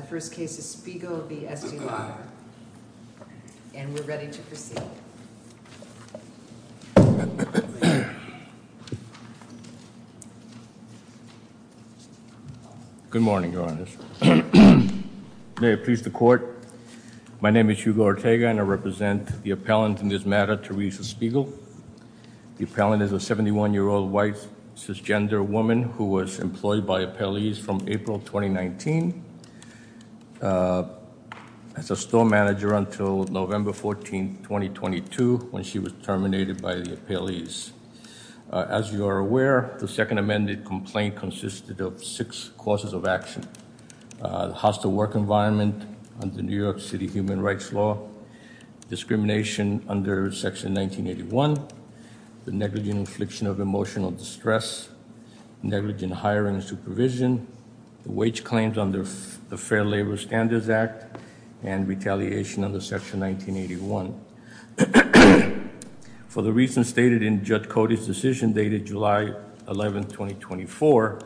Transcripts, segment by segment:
The first case is Spiegel v. Estee Lauder and we're ready to proceed. Good morning Your Honors. May it please the court, my name is Hugo Ortega and I represent the appellant in this matter, Teresa Spiegel. The appellant is a 71-year-old white cisgender woman who was employed by appellees from April 2019 as a store manager until November 14, 2022 when she was terminated by the appellees. As you are aware, the second amended complaint consisted of six causes of action. Hostile work environment under New York City human rights law, discrimination under section 1981, the negligent infliction of emotional distress, negligent hiring and supervision, the wage claims under the Fair Labor Standards Act, and retaliation under section 1981. For the reasons stated in Judge Cody's decision dated July 11, 2024,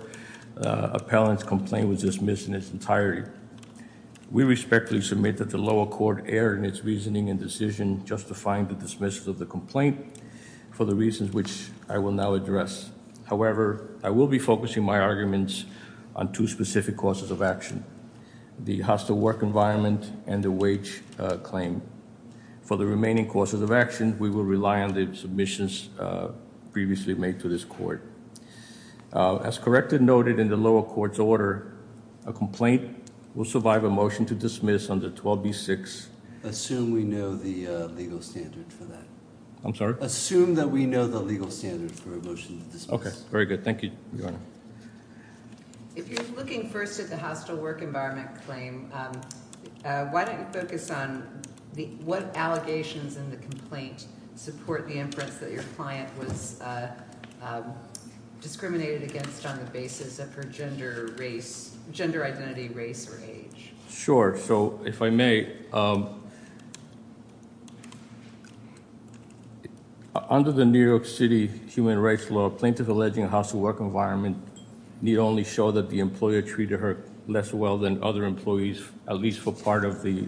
appellant's complaint was dismissed in its entirety. We respectfully submit that the lower court erred in its reasoning and decision justifying the dismissal of the complaint for the reasons which I will now address. However, I will be focusing my arguments on two specific causes of action, the hostile work environment and the wage claim. For the remaining causes of action, we will rely on the submissions previously made to this court. As correctly noted in the lower court's order, a complaint will survive a motion to dismiss under 12B6. Assume we know the legal standard for that. I'm sorry? Assume that we know the legal standard for a motion to dismiss. Okay, very good. Thank you. If you're looking first at the hostile work environment claim, why don't you focus on what allegations in the complaint support the inference that your client was discriminated against on the basis of her gender, race, gender identity, race, or age? Sure, so if I may, under the New York City human rights law, plaintiff alleging hostile work environment need only show that the employer treated her less well than other employees, at least for part of the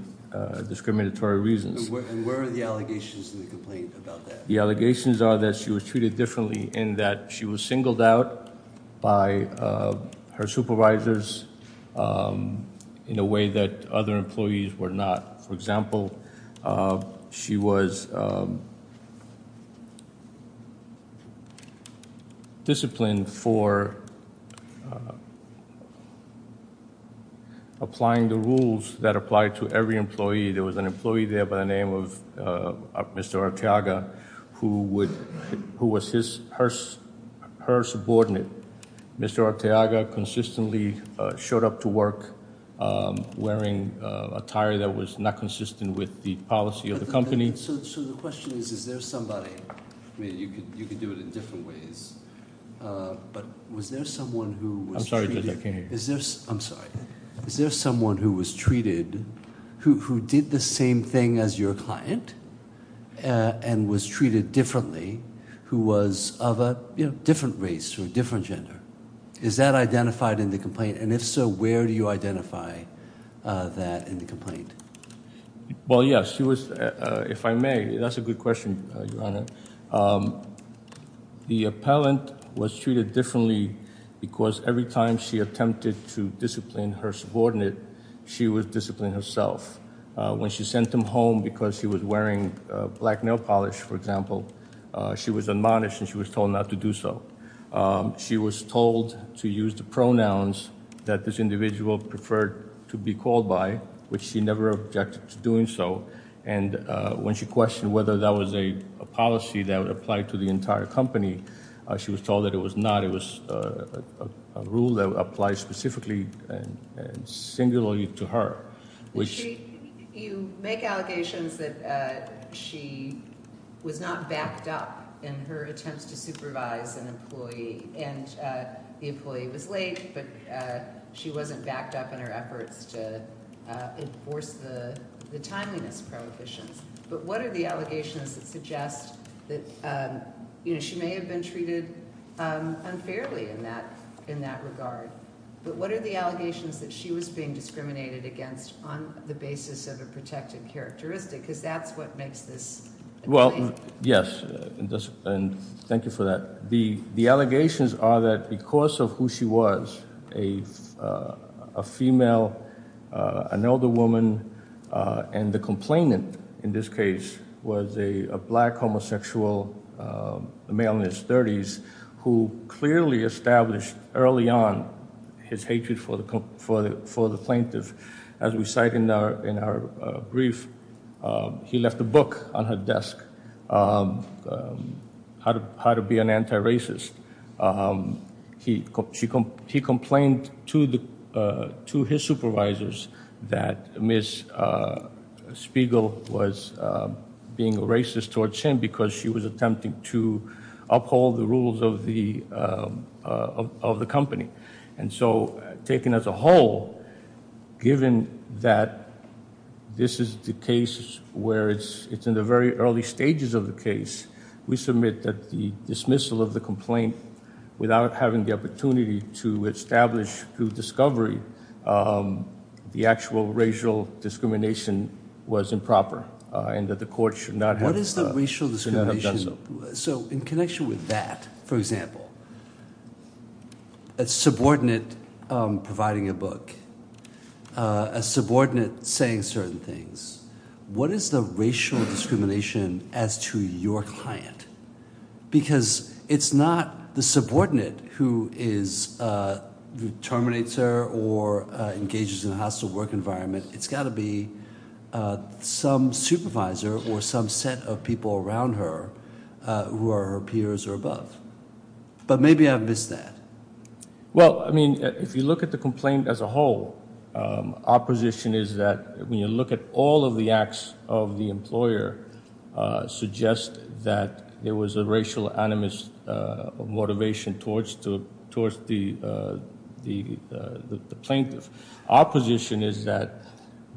discriminatory reasons. And where are the allegations in the complaint about that? The allegations are that she was treated differently and that she was singled out by her supervisors in a way that other employees were not. For example, she was disciplined for applying the rules that apply to every employee. There was an employee there by the name of Mr. Arteaga who was her subordinate. Mr. Arteaga consistently showed up to work wearing attire that was not consistent with the policy of the company. So the question is, is there somebody, I mean you could do it in different ways, but was there someone who was treated, I'm sorry, is there someone who was treated, who did the same thing as your client and was treated differently, who was of a different race or different gender? Is that identified in the complaint? And if so, where do you identify that in the complaint? Well, yes, she was, if I may, that's a good question, Your Honor. The appellant was treated differently because every time she attempted to discipline her subordinate, she was disciplining herself. When she sent them home because she was wearing black nail polish, for example, she was admonished and she was told not to do so. She was told to use the pronouns that this individual preferred to be called by, which she never objected to doing so. And when she questioned whether that was a policy that would apply to the entire company, she was told that it was not. It was a rule that applies specifically and singularly to her. You make allegations that she was not backed up in her attempts to supervise an employee, and the employee was late, but she wasn't backed up in her efforts to enforce the timeliness prohibitions. But what are the allegations that suggest that, you know, she may have been treated unfairly in that regard? But what are the allegations that she was being discriminated against on the basis of a protected characteristic? Because that's what makes this a complaint. Well, yes, and thank you for that. The allegations are that because of who she was, a female, an older woman, and the complainant in this case was a homosexual male in his 30s who clearly established early on his hatred for the plaintiff. As we cite in our brief, he left a book on her desk, how to be an anti-racist. He complained to his supervisors that Ms. Spiegel was being racist towards him because she was attempting to uphold the rules of the company. And so, taken as a whole, given that this is the case where it's in the very early stages of the case, we submit that the dismissal of the complaint, without having the opportunity to establish through discovery, the actual racial discrimination was improper and that the court should not have What is the racial discrimination? So in connection with that, for example, a subordinate providing a book, a subordinate saying certain things, what is the racial discrimination as to your client? Because it's not the subordinate who terminates her or engages in a hostile work environment. It's got to be some supervisor or some set of people around her who are her peers or above. But maybe I missed that. Well, I mean, if you look at the complaint as a whole, our position is that when you look at all of the acts of the employer, suggest that there was a racial animus of motivation towards the plaintiff. Our position is that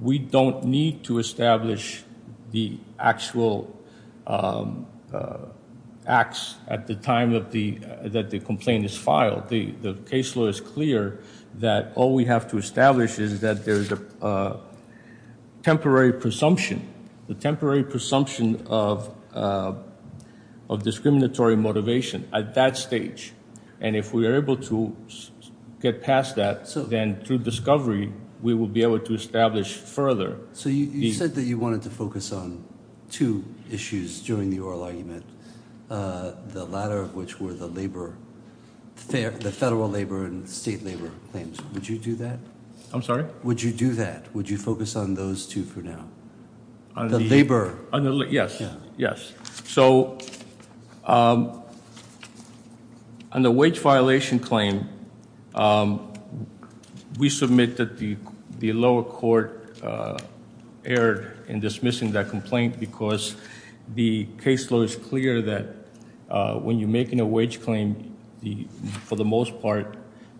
we don't need to establish the actual acts at the time that the complaint is filed. The case law is clear that all we have to establish is that there's a temporary presumption, the temporary presumption of discriminatory motivation at that stage. And if we are able to get past that, then through discovery, we will be able to establish further. So you said that you wanted to focus on two issues during the oral argument, the latter of which were the labor, fair, the federal labor and state labor claims. Would you do that? I'm sorry? Would you do that? Would you focus on those two for now? The labor? Yes, yes. So on the wage violation claim, we submit that the lower court erred in dismissing that complaint because the case law is clear that when you're making a wage claim, for the most part,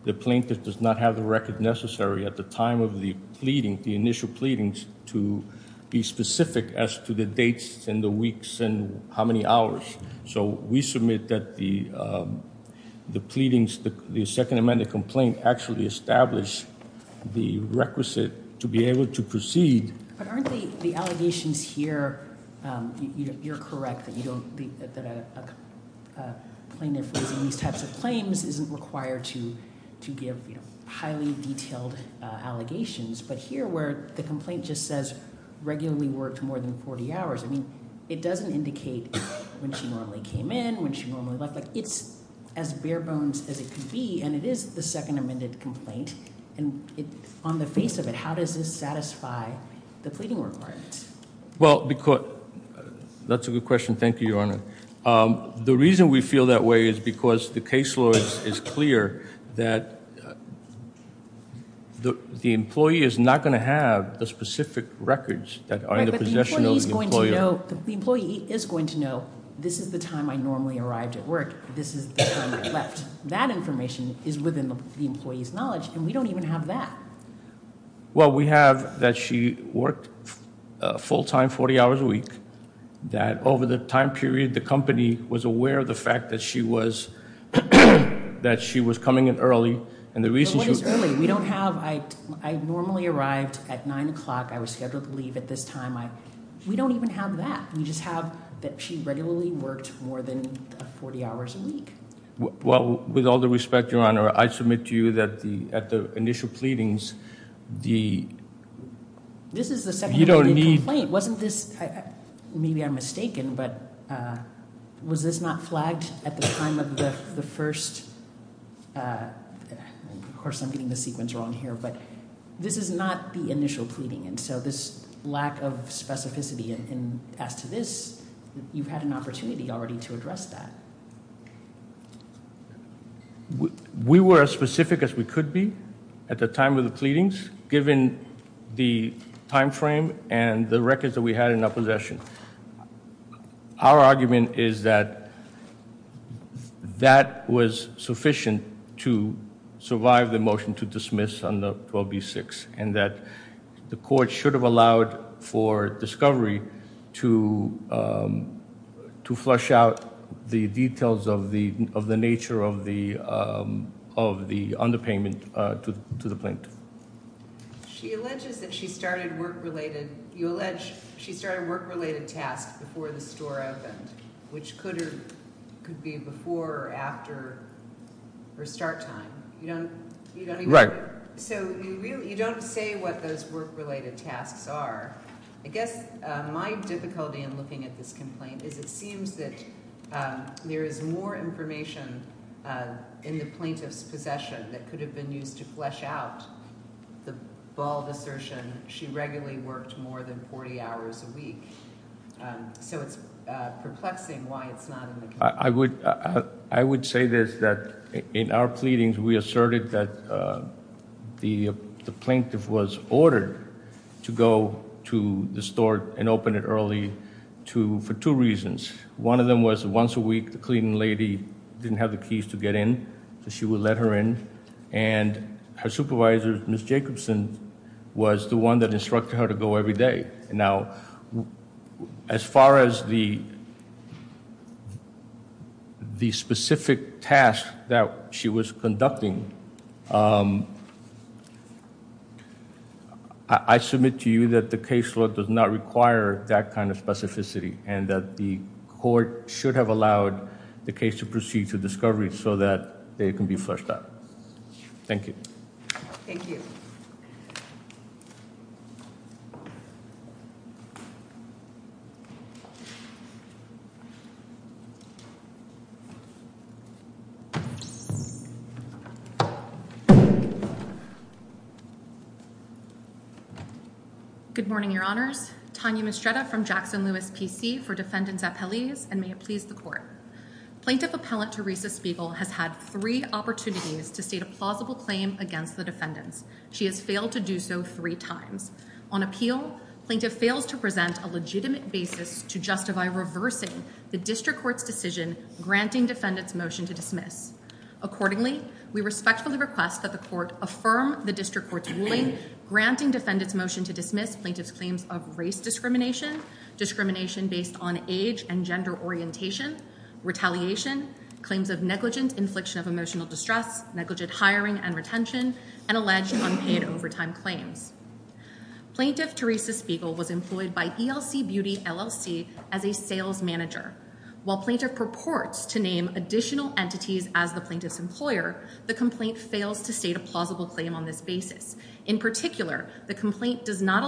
the plaintiff does not have the record necessary at the time of the pleading, the initial pleadings, to be specific as to the dates and the weeks and how many hours. So we submit that the pleadings, the second amendment complaint actually established the requisite to be able to proceed. But aren't the allegations here, you're correct that a plaintiff raising these types of claims isn't required to give highly detailed allegations. But here where the complaint just says regularly worked more than 40 hours, I mean, it doesn't indicate when she normally came in, when she normally left. It's as bare bones as it could be. And it is the second amended complaint. And on the face of it, how does this satisfy the pleading requirements? Well, that's a good question. Thank you, Your Honor. The reason we feel that way is because the case law is clear that the employee is not going to have the specific records that are in the possession of the employer. The employee is going to know this is the time I normally arrived at work. This is the time I left. That information is within the employee's knowledge, and we don't even have that. Well, we have that she worked a full-time 40 hours a week. That over the time period, the company was aware of the fact that she was coming in early. And the reason she- No, it's early. We don't have, I normally arrived at 9 o'clock. I was scheduled to leave at this time. We don't even have that. We just have that she regularly worked more than 40 hours a week. Well, with all the respect, Your Honor, I submit to you that at the initial pleadings, the- This is the second amended complaint. Wasn't this, maybe I'm mistaken, but was this not flagged at the time of the first, of course, I'm getting the sequence wrong here, but this is not the initial pleading. And so this lack of specificity and as to this, you've had an opportunity already to address that. We were as specific as we could be at the time of the pleadings, given the timeframe and the records that we had in our possession. Our argument is that that was sufficient to survive the motion to dismiss on the 12B-6, and that the court should have allowed for discovery to flush out the details of the nature of the underpayment to the plaintiff. She alleges that she started work-related tasks before the store opened, which could be before or after her start time. You don't- Right. So you don't say what those work-related tasks are. I guess my difficulty in looking at this complaint is it seems that there is more information in the plaintiff's possession that could have been used to flush out the bald assertion, she regularly worked more than 40 hours a week. So it's perplexing why it's not in the complaint. I would say this, that in our pleadings, we asserted that the plaintiff was ordered to go to the store and open it early for two reasons. One of them was once a week, the cleaning lady didn't have the keys to get in, so she would let her in. And her supervisor, Ms. Jacobson, was the one that instructed her to go every day. Now, as far as the specific task that she was conducting, I submit to you that the case does not require that kind of specificity and that the court should have allowed the case to proceed to discovery so that it can be flushed out. Thank you. Thank you. Good morning, Your Honors. Tanya Mistretta from Jackson-Lewis PC for defendants appellees, and may it please the court. Plaintiff appellant Teresa Spiegel has had three opportunities to state a plausible claim against the defendants. She has failed to do so three times. On appeal, plaintiff fails to present a legitimate basis to justify reversing the district court's decision granting defendant's motion to dismiss. Accordingly, we respectfully request that the court affirm the district court's ruling granting defendant's motion to dismiss plaintiff's of race discrimination, discrimination based on age and gender orientation, retaliation, claims of negligent infliction of emotional distress, negligent hiring and retention, and alleged unpaid overtime claims. Plaintiff Teresa Spiegel was employed by ELC Beauty LLC as a sales manager. While plaintiff purports to name additional entities as the plaintiff's employer, the complaint fails to state a plausible claim on this basis. In particular, the complaint does not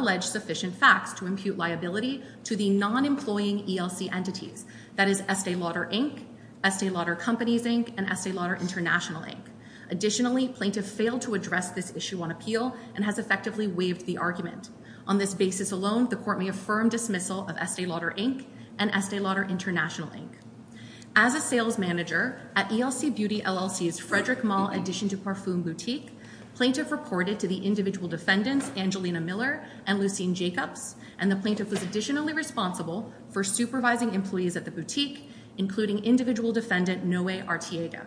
to impute liability to the non-employing ELC entities, that is Estee Lauder Inc., Estee Lauder Companies Inc., and Estee Lauder International Inc. Additionally, plaintiff failed to address this issue on appeal and has effectively waived the argument. On this basis alone, the court may affirm dismissal of Estee Lauder Inc. and Estee Lauder International Inc. As a sales manager at ELC Beauty LLC's Frederick Mall addition to Parfum Boutique, plaintiff reported to the individual defendants Angelina Miller and Lucene Jacobs, and the plaintiff was additionally responsible for supervising employees at the boutique, including individual defendant Noe Arteaga.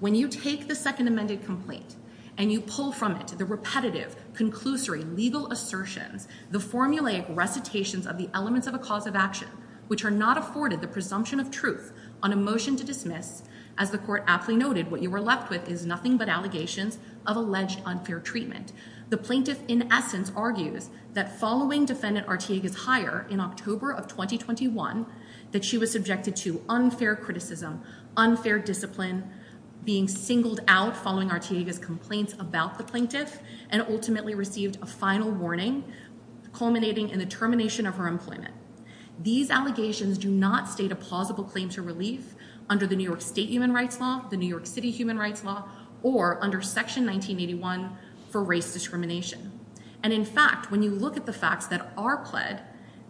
When you take the second amended complaint and you pull from it the repetitive, conclusory, legal assertions, the formulaic recitations of the elements of a cause of action, which are not afforded the presumption of truth on a motion to dismiss, as the court aptly noted, what you were left with is nothing but allegations of alleged unfair treatment. The plaintiff, in essence, argues that following defendant Arteaga's hire in October of 2021, that she was subjected to unfair criticism, unfair discipline, being singled out following Arteaga's complaints about the plaintiff, and ultimately received a final warning, culminating in the termination of her employment. These allegations do not state a plausible claim to relief under New York State human rights law, the New York City human rights law, or under Section 1981 for race discrimination. And in fact, when you look at the facts that are pled,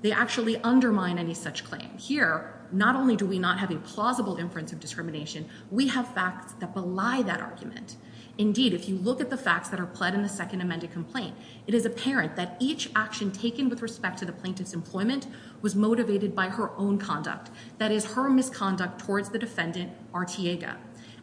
they actually undermine any such claim. Here, not only do we not have a plausible inference of discrimination, we have facts that belie that argument. Indeed, if you look at the facts that are pled in the second amended complaint, it is apparent that each action taken with respect to the plaintiff's employment was motivated by her own conduct, that is, her misconduct towards the defendant Arteaga.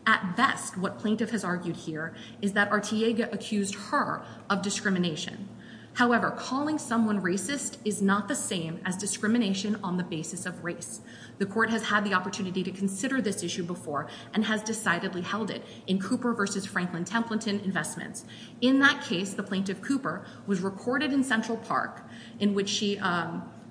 At best, what plaintiff has argued here is that Arteaga accused her of discrimination. However, calling someone racist is not the same as discrimination on the basis of race. The court has had the opportunity to consider this issue before and has decidedly held it in Cooper versus Franklin Templeton investments. In that case, the plaintiff, Cooper, was recorded in Central Park, in which she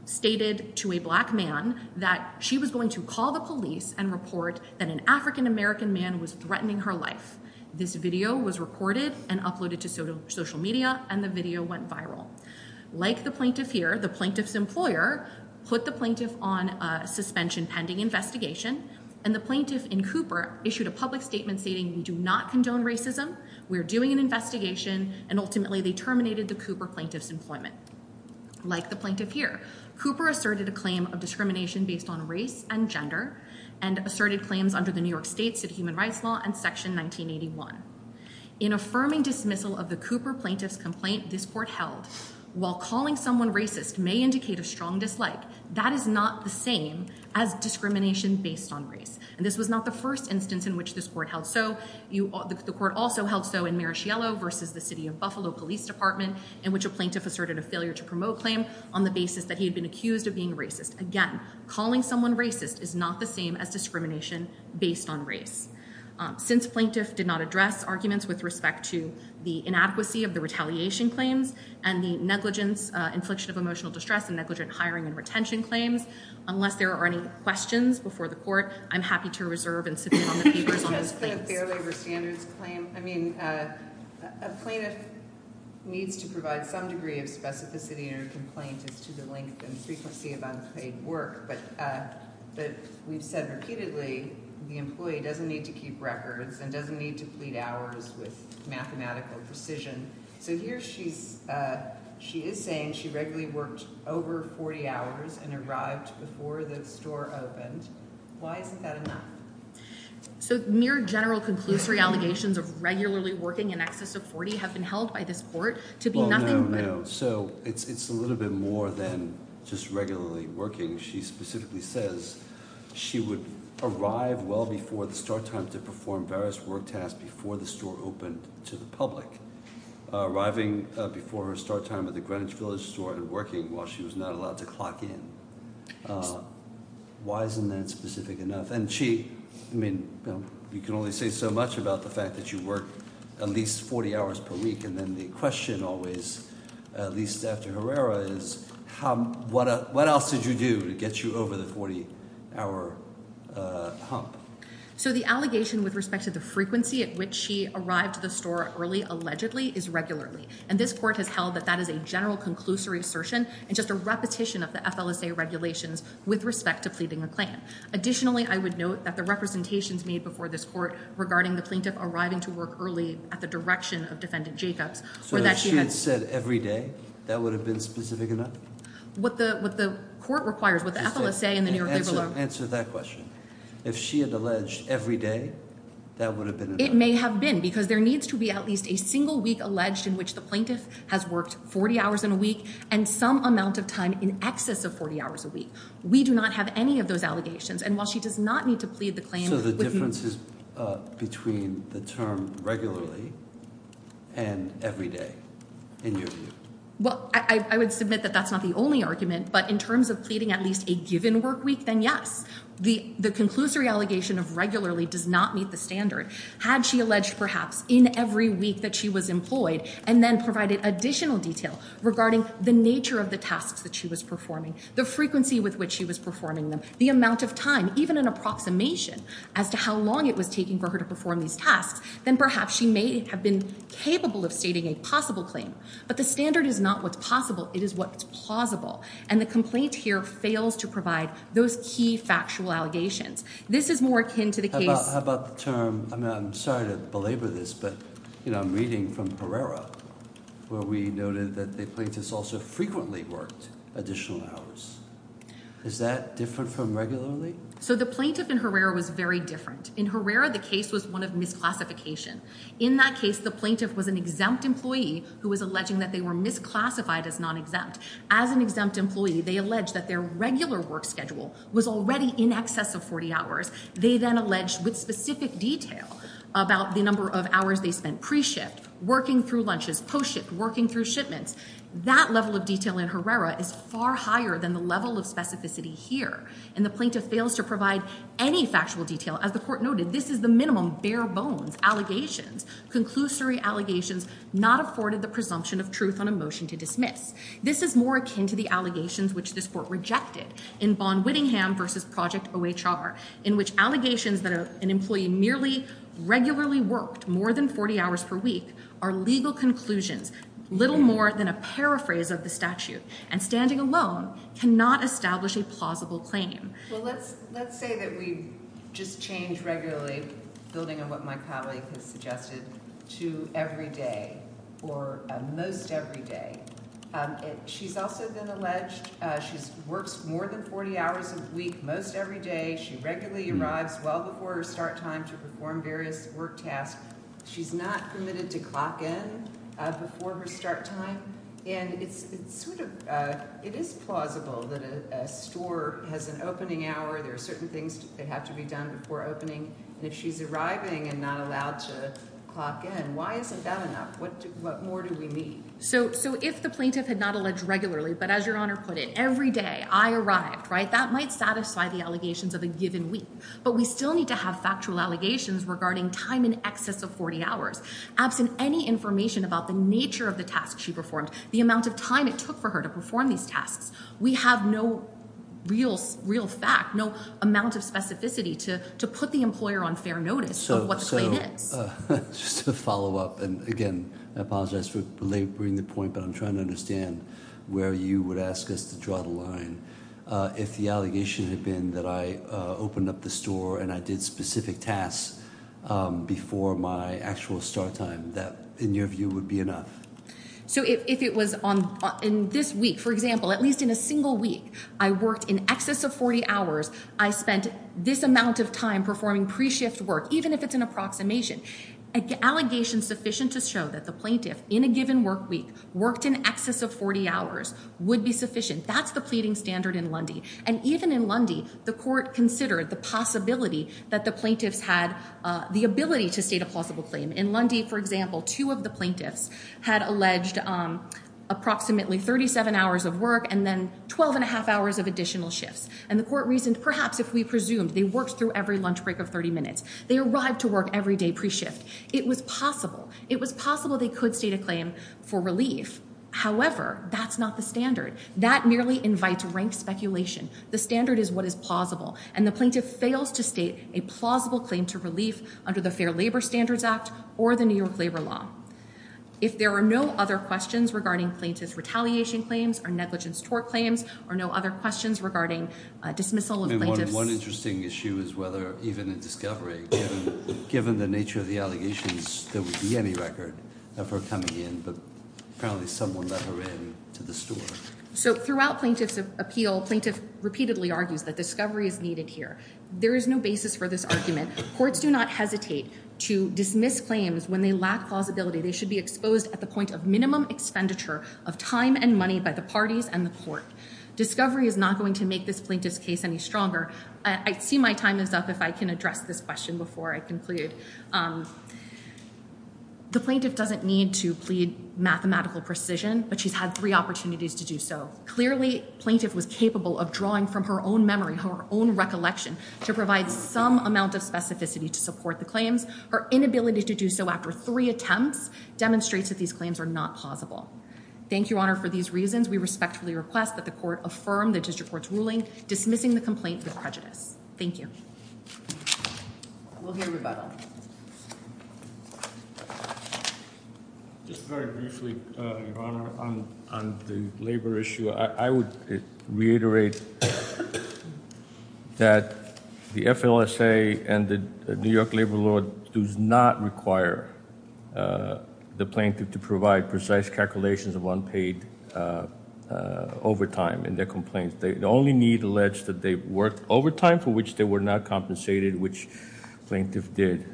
stated to a black man that she was going to call the police and report that an African American man was threatening her life. This video was recorded and uploaded to social media, and the video went viral. Like the plaintiff here, the plaintiff's employer put the plaintiff on a suspension pending investigation, and the plaintiff in Cooper issued a public statement stating, we do not condone racism, we're doing an investigation, and ultimately they terminated the Cooper plaintiff's employment. Like the plaintiff here, Cooper asserted a claim of discrimination based on race and gender, and asserted claims under the New York State City Human Rights Law and Section 1981. In affirming dismissal of the Cooper plaintiff's complaint, this court held, while calling someone racist may indicate a strong dislike, that is not the same as discrimination based on race. And this was not the first instance in which this court held so. The court also held so in Marischiello versus the City of Buffalo Police Department, in which a plaintiff asserted a failure to promote claim on the basis that he had been accused of being racist. Again, calling someone racist is not the same as discrimination based on race. Since plaintiff did not address arguments with respect to the inadequacy of the retaliation claims and the negligence, infliction of emotional distress and negligent hiring and retention claims, unless there are any questions before the court, I'm happy to reserve and submit on the papers on those claims. It has been a fair labor standards claim. I mean, a plaintiff needs to provide some degree of specificity in her complaint as to the length and frequency of unpaid work, but we've said repeatedly, the employee doesn't need to keep records and doesn't need to plead hours with mathematical precision. So here she is saying she regularly worked over 40 hours and arrived before the store opened. Why isn't that enough? So mere general conclusory allegations of regularly working in excess of 40 have been held by this court to be nothing but... Well, no, no. So it's a little bit more than just regularly working. She specifically says she would arrive well before the start time to perform various work tasks before the store opened to the public. Arriving before her start time at the Greenwich Village store and working while she was not allowed to clock in. Why isn't that specific enough? And she, I mean, you can only say so much about the fact that you work at least 40 hours per week. And then the question always, at least after Herrera, is what else did you do to get you over the 40 hour hump? So the allegation with respect to the frequency at which she arrived to the store early allegedly is regularly. And this court has held that that is a general conclusory assertion and just a repetition of the FLSA regulations with respect to pleading the Klan. Additionally, I would note that the representations made before this court regarding the plaintiff arriving to work early at the direction of Defendant Jacobs... So if she had said every day, that would have been specific enough? What the court requires, what the FLSA and the New York Labor Law... Answer that question. If she had alleged every day, that would have been enough? It may have been because there needs to be at least a single week alleged in which the plaintiff has worked 40 hours in a week and some amount of time in excess of 40 hours a week. We do not have any of those allegations. And while she does not need to plead the Klan... So the difference is between the term regularly and every day, in your view? Well, I would submit that that's not the only argument, but in terms of pleading at least a given work week, then yes. The conclusory allegation of regularly does not meet the standard. Had she alleged perhaps in every week that she was employed and then provided additional detail regarding the nature of the tasks that she was performing, the frequency with which she was performing them, the amount of time, even an approximation as to how long it was taking for her to perform these tasks, then perhaps she may have been capable of stating a possible claim. But the standard is not what's possible, it is what's plausible. And the complaint here fails to provide those key factual allegations. This is more akin to the case... How about the term... I mean, I'm sorry to belabor this, but I'm reading from Herrera where we noted that the plaintiffs also frequently worked additional hours. Is that different from regularly? So the plaintiff in Herrera was very different. In Herrera, the case was one of misclassification. In that case, the plaintiff was an exempt employee who was alleging that they were misclassified as non-exempt. As an exempt employee, they alleged that their regular work schedule was already in excess of 40 hours. They then alleged with specific detail about the number of hours they spent pre-shift, working through lunches, post-shift, working through shipments. That level of detail in Herrera is far higher than the level of specificity here. And the plaintiff fails to provide any factual detail. As the court noted, this is the minimum bare bones allegations, conclusory allegations, not afforded the presumption of truth on a motion to dismiss. This is more akin to the allegations which this court rejected in Bonn-Whittingham v. Project OHR, in which allegations that an employee merely regularly worked more than 40 hours per week are legal conclusions, little more than a paraphrase of the statute, and standing alone cannot establish a plausible claim. Well, let's say that we just change regularly, building on what my colleague has suggested, to every day or most every day. She's also been alleged, she works more than 40 hours a week, most every day. She regularly arrives well before her start time to perform various work tasks. She's not permitted to clock in before her start time. And it's sort of, it is plausible that a store has an opening hour. There are certain things that have to be done before opening. And if she's arriving and not allowed to clock in, why isn't that enough? What more do we need? So if the plaintiff had not alleged regularly, but as Your Honor put it, every day, I arrived, right, that might satisfy the allegations of a given week. But we still need to have factual allegations regarding time in excess of 40 hours. Absent any information about the nature of the task she performed, the amount of time it took for her to perform these tasks, we have no real fact, no amount of specificity to put the employer on fair notice of what the claim is. So just to follow up, and again, I apologize for belaboring the point, but I'm trying to understand where you would ask us to draw the line. If the allegation had been that I opened up the store and I did specific tasks before my actual start time, that, in your view, would be enough? So if it was on, in this week, for example, at least in a single week, I worked in excess of 40 hours, I spent this amount of time performing pre-shift work, even if it's an approximation, an allegation sufficient to show that the plaintiff, in a given work week, worked in excess of 40 hours would be sufficient. That's the pleading standard in Lundy. And even in Lundy, the court considered the possibility that the plaintiffs had the ability to state a plausible claim. In Lundy, for example, two of the plaintiffs had alleged approximately 37 hours of work and then 12 and a half hours of additional shifts. And the court reasoned, perhaps if we presumed they worked through every lunch break of 30 minutes, they arrived to work every day pre-shift. It was possible. It was possible they could state a claim for relief. However, that's not the standard. That merely invites rank speculation. The standard is what is plausible. And the plaintiff fails to state a plausible claim to the Fair Labor Standards Act or the New York Labor Law. If there are no other questions regarding plaintiff's retaliation claims or negligence tort claims or no other questions regarding dismissal of plaintiffs. One interesting issue is whether, even in discovery, given the nature of the allegations, there would be any record of her coming in. But apparently someone let her in to the store. So throughout plaintiff's appeal, plaintiff repeatedly argues that discovery is needed here. There is no basis for this argument. Courts do not hesitate to dismiss claims when they lack plausibility. They should be exposed at the point of minimum expenditure of time and money by the parties and the court. Discovery is not going to make this plaintiff's case any stronger. I see my time is up if I can address this question before I conclude. The plaintiff doesn't need to plead mathematical precision, but she's had three opportunities to do so. Clearly, plaintiff was capable of drawing from her own memory, her own recollection, to provide some amount of specificity to support the claims. Her inability to do so after three attempts demonstrates that these claims are not plausible. Thank you, Your Honor, for these reasons. We respectfully request that the court affirm the district court's ruling dismissing the complaint with prejudice. Thank you. We'll hear rebuttal. Just very briefly, Your Honor, on the labor issue, I would reiterate that the FLSA and the New York Labor Law does not require the plaintiff to provide precise calculations of unpaid overtime in their complaints. They only need to allege that worked overtime for which they were not compensated, which plaintiff did.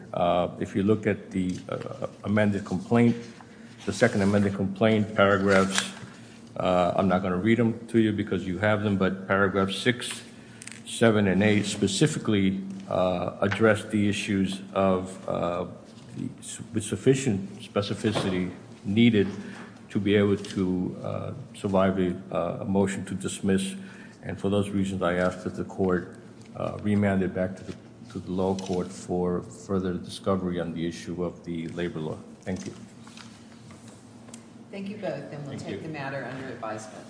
If you look at the amended complaint, the second amended complaint paragraphs, I'm not going to read them to you because you have them, but paragraph six, seven, and eight specifically address the issues with sufficient specificity needed to be able to survive a motion to dismiss. For those reasons, I ask that the court remand it back to the law court for further discovery on the issue of the labor law. Thank you. Thank you both, and we'll take the matter under advisement.